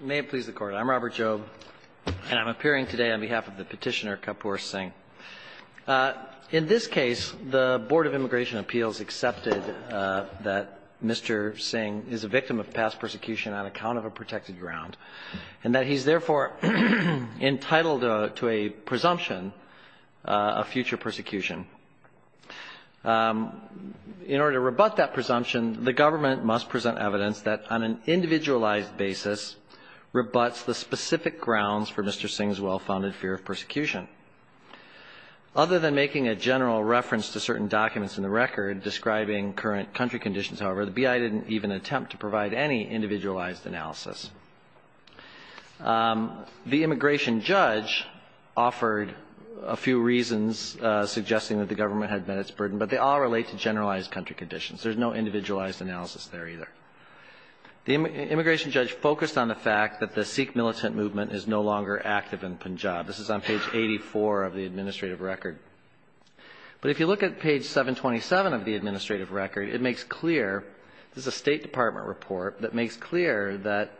May it please the Court. I'm Robert Jobe, and I'm appearing today on behalf of the petitioner Kapoor Singh. In this case, the Board of Immigration Appeals accepted that Mr. Singh is a victim of past persecution on account of a protected ground, and that he's therefore entitled to a presumption of future persecution. In order to rebut that presumption, the government must present evidence that, on an individualized basis, rebuts the specific grounds for Mr. Singh's well-founded fear of persecution. Other than making a general reference to certain documents in the record describing current country conditions, however, the B.I. didn't even attempt to provide any individualized analysis. The immigration judge offered a few reasons suggesting that the government had met its burden, but they all relate to generalized country conditions. There's no individualized analysis there either. The immigration judge focused on the fact that the Sikh militant movement is no longer active in Punjab. This is on page 84 of the administrative record. But if you look at page 727 of the administrative record, it makes clear, this is a State Department report, that makes clear that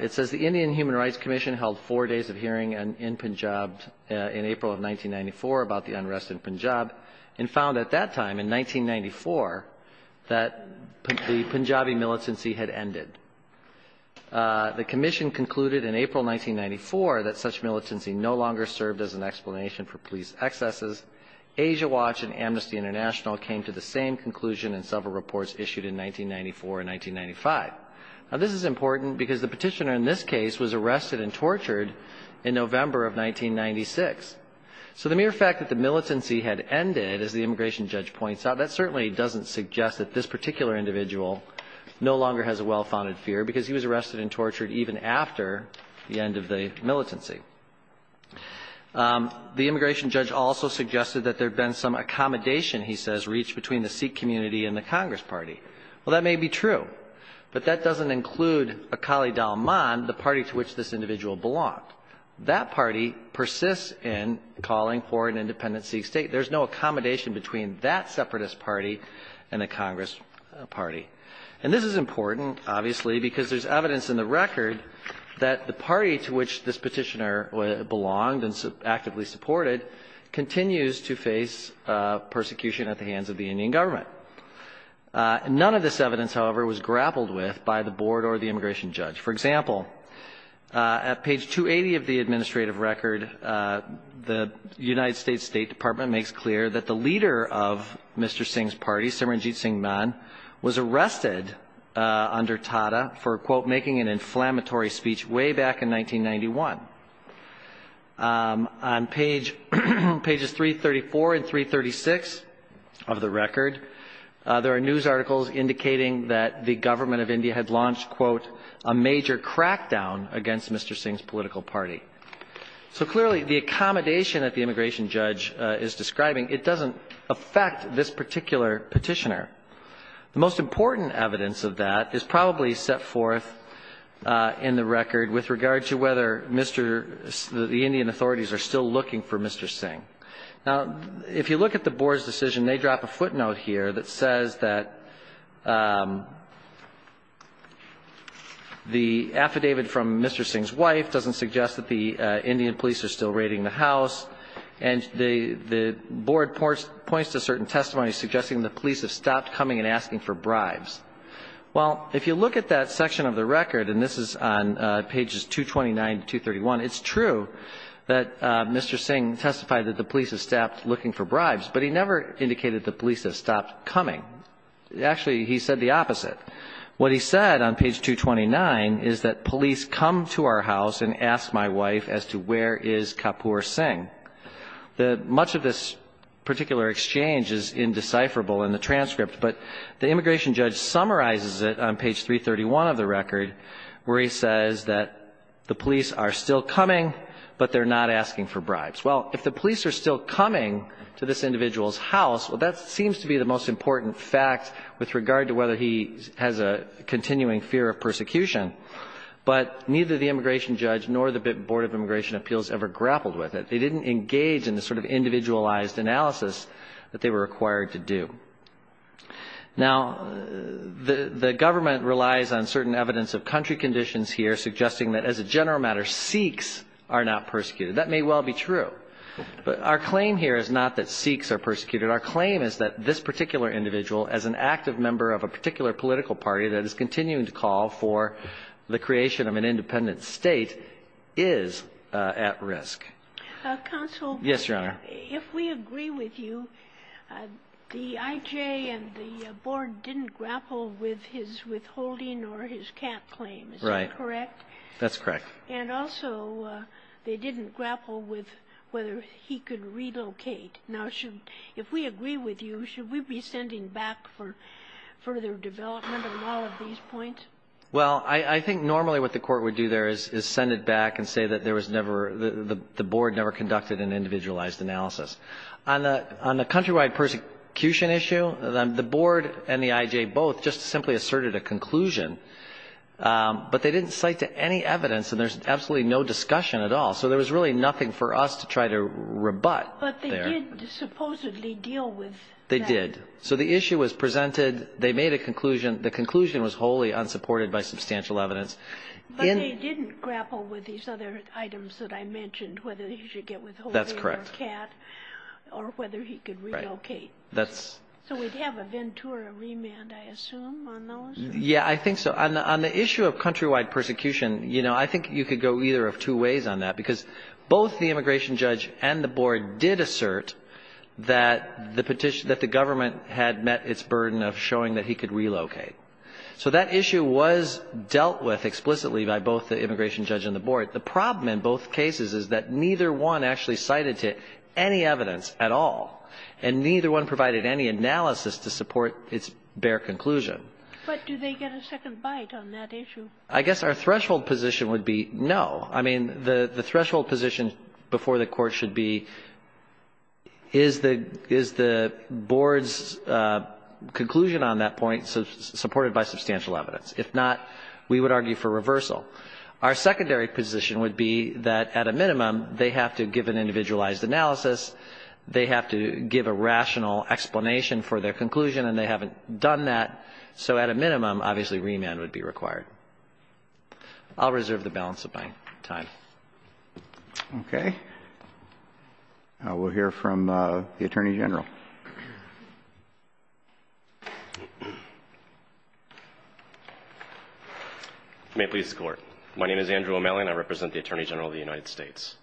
it says the Indian Human Rights Commission held four days of hearing in Punjab in April of 1994 about the unrest in Punjab, and found at that time, in 1994, that the Punjabi militancy had ended. The commission concluded in April 1994 that such militancy no longer served as an explanation for police excesses. Asia Watch and Amnesty Commission made the same conclusion in several reports issued in 1994 and 1995. Now, this is important because the petitioner in this case was arrested and tortured in November of 1996. So the mere fact that the militancy had ended, as the immigration judge points out, that certainly doesn't suggest that this particular individual no longer has a well-founded fear, because he was arrested and tortured even after the end of the militancy. The immigration judge also suggested that there had been some accommodation, he says, reached between the Sikh community and the Congress party. Well, that may be true, but that doesn't include Akali Dalman, the party to which this individual belonged. That party persists in calling for an independent Sikh state. There's no accommodation between that separatist party and the Congress party. And this is important, obviously, because there's evidence in the record that the party to which this petitioner belonged and actively supported continues to face persecution at the hands of the Indian government. Now, the Indian government has never been a part of this effort. None of this evidence, however, was grappled with by the board or the immigration judge. For example, at page 280 of the administrative record, the United States State Department makes clear that the leader of Mr. Singh's party, Simranjit Singh Man, was arrested under Tata for, quote, making an inflammatory speech way back in 1991. On pages 334 and 336 of the record, the Indian government has never been a part of this effort. There are news articles indicating that the government of India had launched, quote, a major crackdown against Mr. Singh's political party. So clearly, the accommodation that the immigration judge is describing, it doesn't affect this particular petitioner. The most important evidence of that is probably set forth in the record with regard to whether Mr. the Indian authorities are still looking for Mr. Singh. Now, if you look at the board's decision, they drop a section of the record that says that the affidavit from Mr. Singh's wife doesn't suggest that the Indian police are still raiding the house, and the board points to certain testimonies suggesting the police have stopped coming and asking for bribes. Well, if you look at that section of the record, and this is on pages 229 to 231, it's true that Mr. Singh testified that the police have stopped looking for Mr. Singh, and that the police are still coming. Actually, he said the opposite. What he said on page 229 is that police come to our house and ask my wife as to where is Kapoor Singh. Much of this particular exchange is indecipherable in the transcript, but the immigration judge summarizes it on page 331 of the record, where he says that the police are still coming, but they're not asking for bribes. Well, if the police are still coming to this individual's house, well, that seems to be the most important fact with regard to whether he has a continuing fear of persecution, but neither the immigration judge nor the board of immigration appeals ever grappled with it. They didn't engage in the sort of individualized analysis that they were required to do. Now, the government relies on certain evidence of country conditions here, suggesting that, as a general matter, Sikhs are not persecuted. But our claim here is not that Sikhs are persecuted. Our claim is that this particular individual, as an active member of a particular political party that is continuing to call for the creation of an independent State, is at risk. Kagan. Counsel? Bursch. Yes, Your Honor. Kagan. If we agree with you, the I.J. and the board didn't grapple with his withholding or his cap claim. Bursch. Right. Kagan. Is that correct? Bursch. That's correct. Kagan. And also, they didn't grapple with whether he could relocate. Now, should we be sending back for further development on all of these points? Bursch. Well, I think normally what the court would do there is send it back and say that there was never the board never conducted an individualized analysis. On the countrywide persecution issue, the board and the I.J. both just simply asserted a conclusion, but they didn't cite to any evidence, and there's absolutely no discussion at all. So there was really nothing for us to try to rebut there. Kagan. But they did supposedly deal with that. Bursch. They did. So the issue was presented. They made a conclusion. The conclusion was wholly unsupported by substantial evidence. Kagan. But they didn't grapple with these other items that I mentioned, whether he should get withholding or cap, or whether he could relocate. So we'd have a Ventura remand, I assume, on those? Bursch. Yeah, I think so. On the issue of countrywide persecution, you know, I think you could go either of two ways on that, because both the immigration judge and the board did assert that the petition, that the government had met its burden of showing that he could relocate. So that issue was dealt with explicitly by both the immigration judge and the board. The problem in both cases is that neither one actually cited to any evidence at all, and neither one provided any analysis to support its bare conclusion. Kagan. But do they get a second bite on that issue? Bursch. I guess our threshold position would be no. I mean, the threshold position before the Court should be, is the board's conclusion on that point supported by substantial evidence? If not, we would argue for reversal. Our secondary position would be that, at a minimum, they have to give an individualized analysis, they have to give a rational explanation for their conclusion, and they haven't done that. So at a minimum, obviously, remand would be required. I'll reserve the balance of my time. Okay. We'll hear from the Attorney General. May it please the Court. My name is Andrew O'Malley, and I represent the Attorney General of the United States.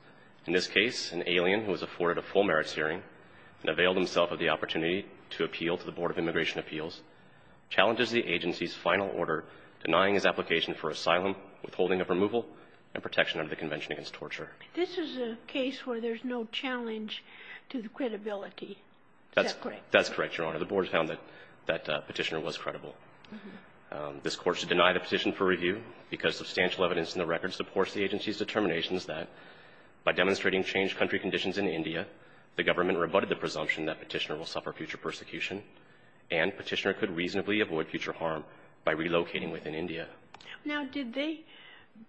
In this case, an alien who has afforded a full merits hearing and availed himself of the opportunity to appeal to the Board of Immigration Appeals challenges the agency's final order denying his application for asylum, withholding of removal, and protection under the Convention Against Torture. This is a case where there's no challenge to the credibility. Is that correct? That's correct, Your Honor. The board found that that Petitioner was credible. This Court should deny the petition for review because substantial evidence in the Petitioner's determination is that by demonstrating changed country conditions in India, the government rebutted the presumption that Petitioner will suffer future persecution, and Petitioner could reasonably avoid future harm by relocating within India. Now, did they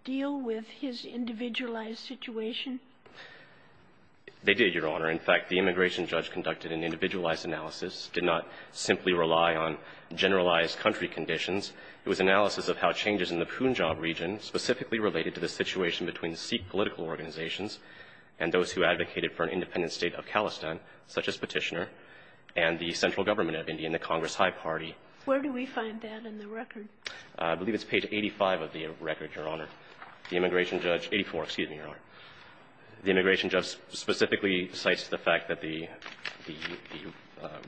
deal with his individualized situation? They did, Your Honor. In fact, the immigration judge conducted an individualized analysis, did not simply rely on generalized country conditions. It was analysis of how changes in the Punjab region specifically related to the situation between Sikh political organizations and those who advocated for an independent state of Khalistan, such as Petitioner, and the central government of India and the Congress High Party. Where do we find that in the record? I believe it's page 85 of the record, Your Honor. The immigration judge 84, excuse me, Your Honor. The immigration judge specifically cites the fact that the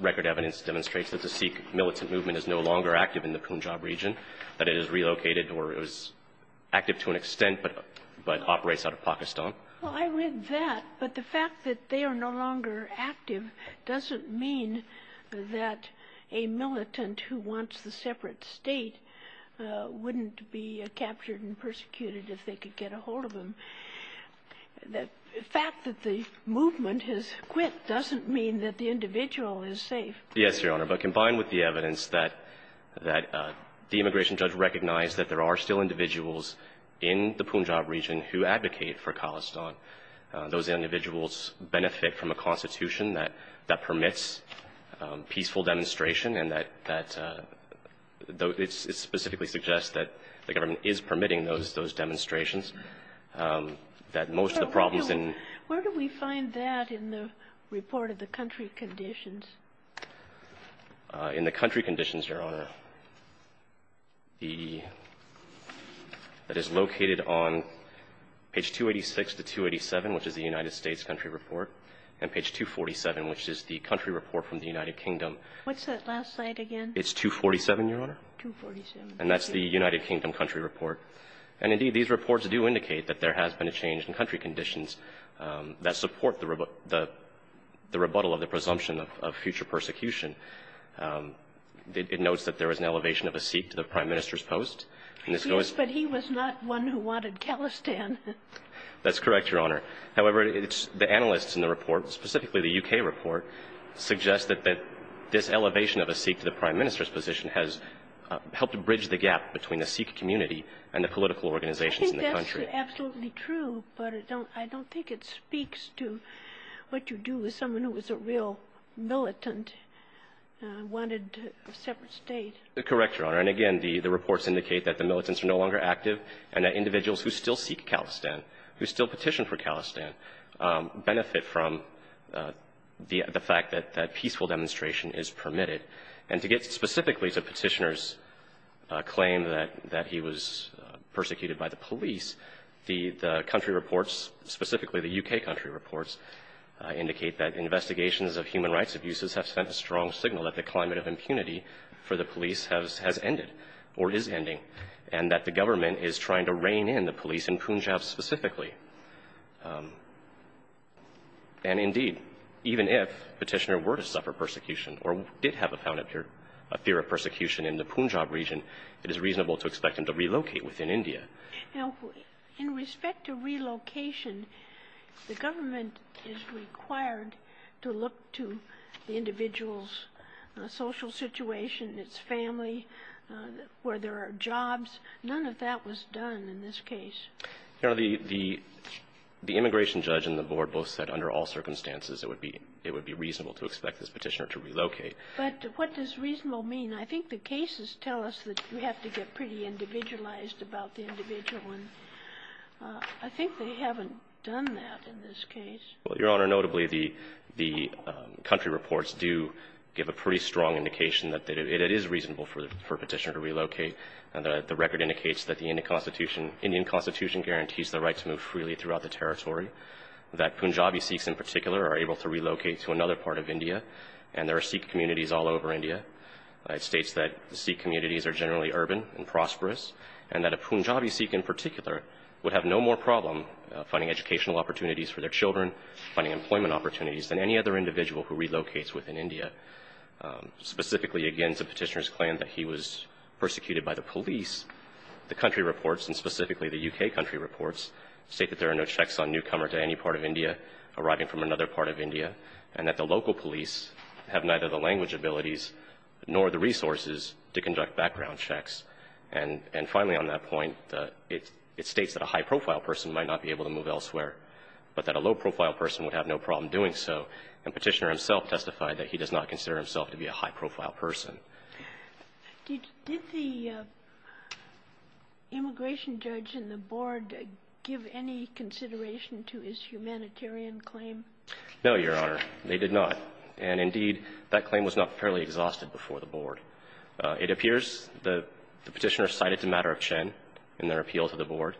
record evidence demonstrates that the Sikh militant movement is no longer active in the Punjab region, that it is relocated or is active to an extent but operates out of Pakistan. Well, I read that. But the fact that they are no longer active doesn't mean that a militant who wants the separate state wouldn't be captured and persecuted if they could get a hold of them. The fact that the movement has quit doesn't mean that the individual is safe. Yes, Your Honor. But combined with the evidence that the immigration judge recognized that there are still individuals in the Punjab region who advocate for Khalistan, those individuals benefit from a constitution that permits peaceful demonstration and that specifically suggests that the government is permitting those demonstrations, that most of the problems in the region. In the country conditions, Your Honor, the that is located on page 286 to 287, which is the United States country report, and page 247, which is the country report from the United Kingdom. What's that last slide again? It's 247, Your Honor. 247. And that's the United Kingdom country report. And, indeed, these reports do indicate that there has been a change in country conditions that support the rebuttal of the presumption of future persecution. It notes that there was an elevation of a Sikh to the prime minister's post. Yes, but he was not one who wanted Khalistan. That's correct, Your Honor. However, the analysts in the report, specifically the U.K. report, suggest that this elevation of a Sikh to the prime minister's position has helped bridge the gap between the Sikh community and the political organizations in the country. That's absolutely true, but I don't think it speaks to what you do with someone who was a real militant, wanted a separate state. Correct, Your Honor. And, again, the reports indicate that the militants are no longer active and that individuals who still seek Khalistan, who still petition for Khalistan, benefit from the fact that peaceful demonstration is permitted. And to get specifically to Petitioner's claim that he was persecuted by the police, the country reports, specifically the U.K. country reports, indicate that investigations of human rights abuses have sent a strong signal that the climate of impunity for the police has ended, or is ending, and that the government is trying to rein in the police in Punjab specifically. And, indeed, even if Petitioner were to suffer persecution or did have a found fear of persecution in the Punjab region, it is reasonable to expect him to relocate within India. Now, in respect to relocation, the government is required to look to the individual's social situation, its family, where there are jobs. None of that was done in this case. Your Honor, the immigration judge and the board both said under all circumstances it would be reasonable to expect this petitioner to relocate. But what does reasonable mean? I think the cases tell us that we have to get pretty individualized about the individual. And I think they haven't done that in this case. Well, Your Honor, notably, the country reports do give a pretty strong indication that it is reasonable for Petitioner to relocate. The record indicates that the Indian constitution guarantees the right to move freely throughout the territory, that Punjabi Sikhs in particular are able to relocate to another part of India, and there are Sikh communities all over India. It states that Sikh communities are generally urban and prosperous, and that a Punjabi Sikh in particular would have no more problem finding educational opportunities for their children, finding employment opportunities than any other individual who relocates within India. Specifically, again, the Petitioner's claim that he was persecuted by the police, the country reports, and specifically the U.K. country reports state that there are no checks on newcomers to any part of India arriving from another part of India, and that the local police have neither the language abilities nor the resources to conduct background checks. And finally, on that point, it states that a high-profile person might not be able to move elsewhere, but that a low-profile person would have no problem doing so. And Petitioner himself testified that he does not consider himself to be a high-profile person. Did the immigration judge and the board give any consideration to his humanitarian claim? No, Your Honor. They did not. And indeed, that claim was not fairly exhausted before the board. It appears the Petitioner cited the matter of Chen in their appeal to the board,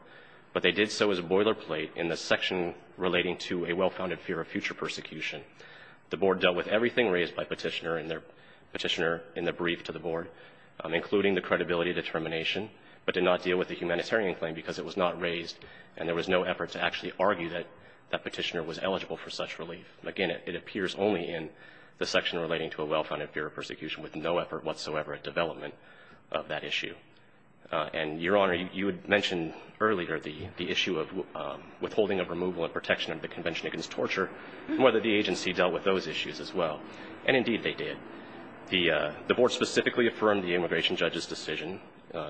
but they did so as a boilerplate in the section relating to a well-founded fear of future persecution. The board dealt with everything raised by Petitioner and their Petitioner in the brief to the board, including the credibility determination, but did not deal with the humanitarian claim because it was not raised and there was no effort to actually argue that Petitioner was eligible for such relief. Again, it appears only in the section relating to a well-founded fear of persecution, with no effort whatsoever at development of that issue. And, Your Honor, you had mentioned earlier the issue of withholding of removal and protection under the Convention Against Torture, and whether the agency dealt with those issues as well. And, indeed, they did. The board specifically affirmed the immigration judge's decision,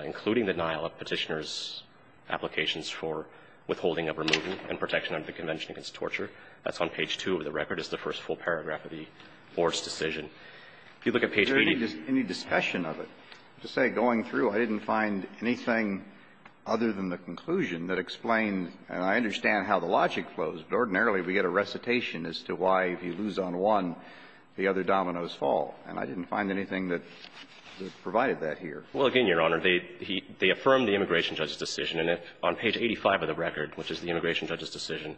including the denial of Petitioner's applications for withholding of removal and protection under the Convention Against Torture. That's on page 2 of the record. It's the first full paragraph of the board's decision. If you look at page 18 of the record. Any discussion of it? To say going through, I didn't find anything other than the conclusion that explained, and I understand how the logic flows, but ordinarily we get a recitation as to why if you lose on one, the other dominoes fall. And I didn't find anything that provided that here. Well, again, Your Honor, they affirmed the immigration judge's decision. And on page 85 of the record, which is the immigration judge's decision,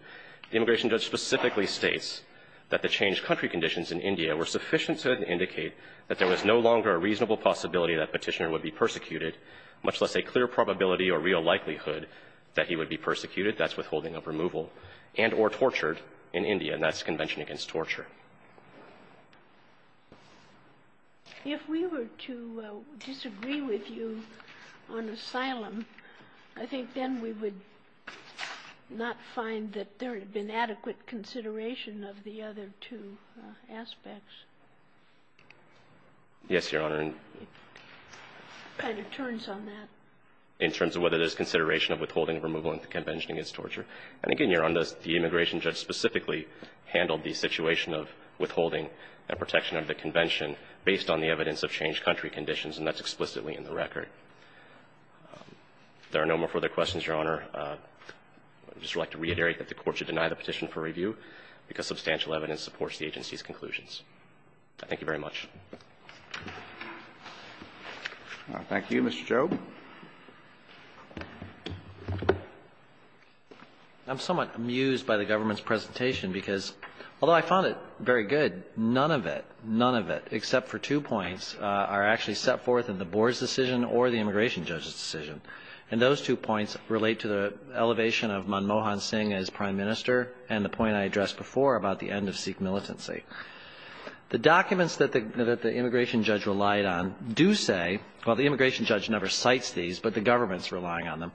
the immigration judge specifically states that the changed country conditions in India were sufficient to indicate that there was no longer a reasonable possibility that Petitioner would be persecuted, much less a clear probability or real likelihood that he would be persecuted, that's withholding of removal, and or tortured in India. And that's the Convention Against Torture. If we were to disagree with you on asylum, I think then we would not find that there had been adequate consideration of the other two aspects. Yes, Your Honor. It kind of turns on that. In terms of whether there's consideration of withholding of removal in the Convention Against Torture. And again, Your Honor, the immigration judge specifically handled the situation of withholding the protection of the convention based on the evidence of changed country conditions, and that's explicitly in the record. If there are no more further questions, Your Honor, I would just like to reiterate that the Court should deny the petition for review because substantial evidence supports the agency's conclusions. Thank you very much. Thank you, Mr. Chau. I'm somewhat amused by the government's presentation because, although I found it very good, none of it, none of it, except for two points, are actually set forth in the board's decision or the immigration judge's decision. And those two points relate to the elevation of Manmohan Singh as Prime Minister and the point I addressed before about the end of Sikh militancy. The documents that the immigration judge relied on do say, well, the immigration judge never cites these, but the government's relying on them.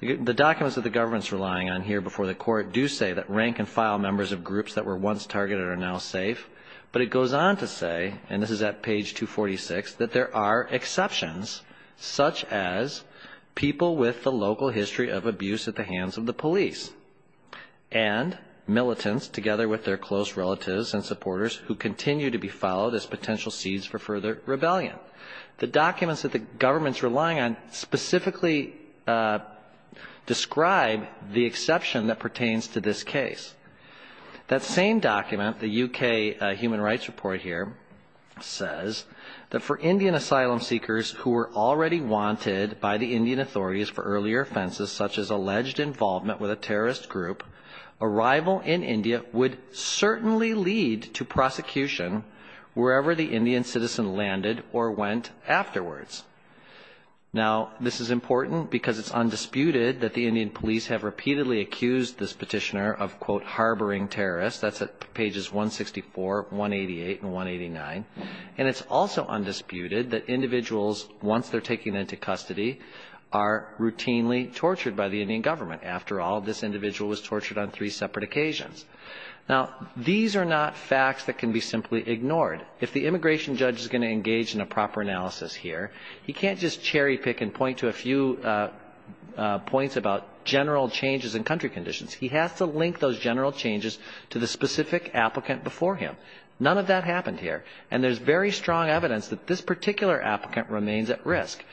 The documents that the government's relying on here before the Court do say that rank-and-file members of groups that were once targeted are now safe, but it goes on to say, and this is at page 246, that there are exceptions, such as people with the local history of abuse at the hands of the police and militants together with their close relatives and supporters who continue to be followed as potential seeds for further rebellion. The documents that the government's relying on specifically describe the exception that pertains to this case. That same document, the U.K. Human Rights Report here, says that for Indian asylum seekers who were already wanted by the Indian authorities for earlier offenses, such as alleged involvement with a terrorist group, arrival in India would certainly lead to prosecution wherever the Indian citizen landed or went afterwards. Now, this is important because it's undisputed that the Indian police have repeatedly accused this petitioner of, quote, harboring terrorists. That's at pages 164, 188, and 189. And it's also undisputed that individuals, once they're taken into custody, are routinely tortured by the Indian government. After all, this individual was tortured on three separate occasions. Now, these are not facts that can be simply ignored. If the immigration judge is going to engage in a proper analysis here, he can't just cherry pick and point to a few points about general changes in country conditions. He has to link those general changes to the specific applicant before him. None of that happened here. And there's very strong evidence that this particular applicant remains at risk.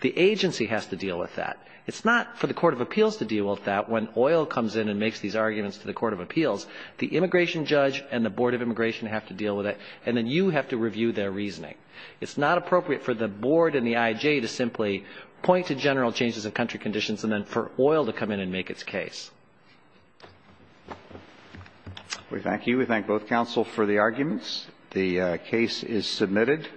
The agency has to deal with that. It's not for the court of appeals to deal with that when oil comes in and makes these arguments to the court of appeals. The immigration judge and the board of immigration have to deal with it. And then you have to review their reasoning. It's not appropriate for the board and the I.J. to simply point to general changes in country conditions and then for oil to come in and make its case. We thank you. We thank both counsel for the arguments. The case is submitted.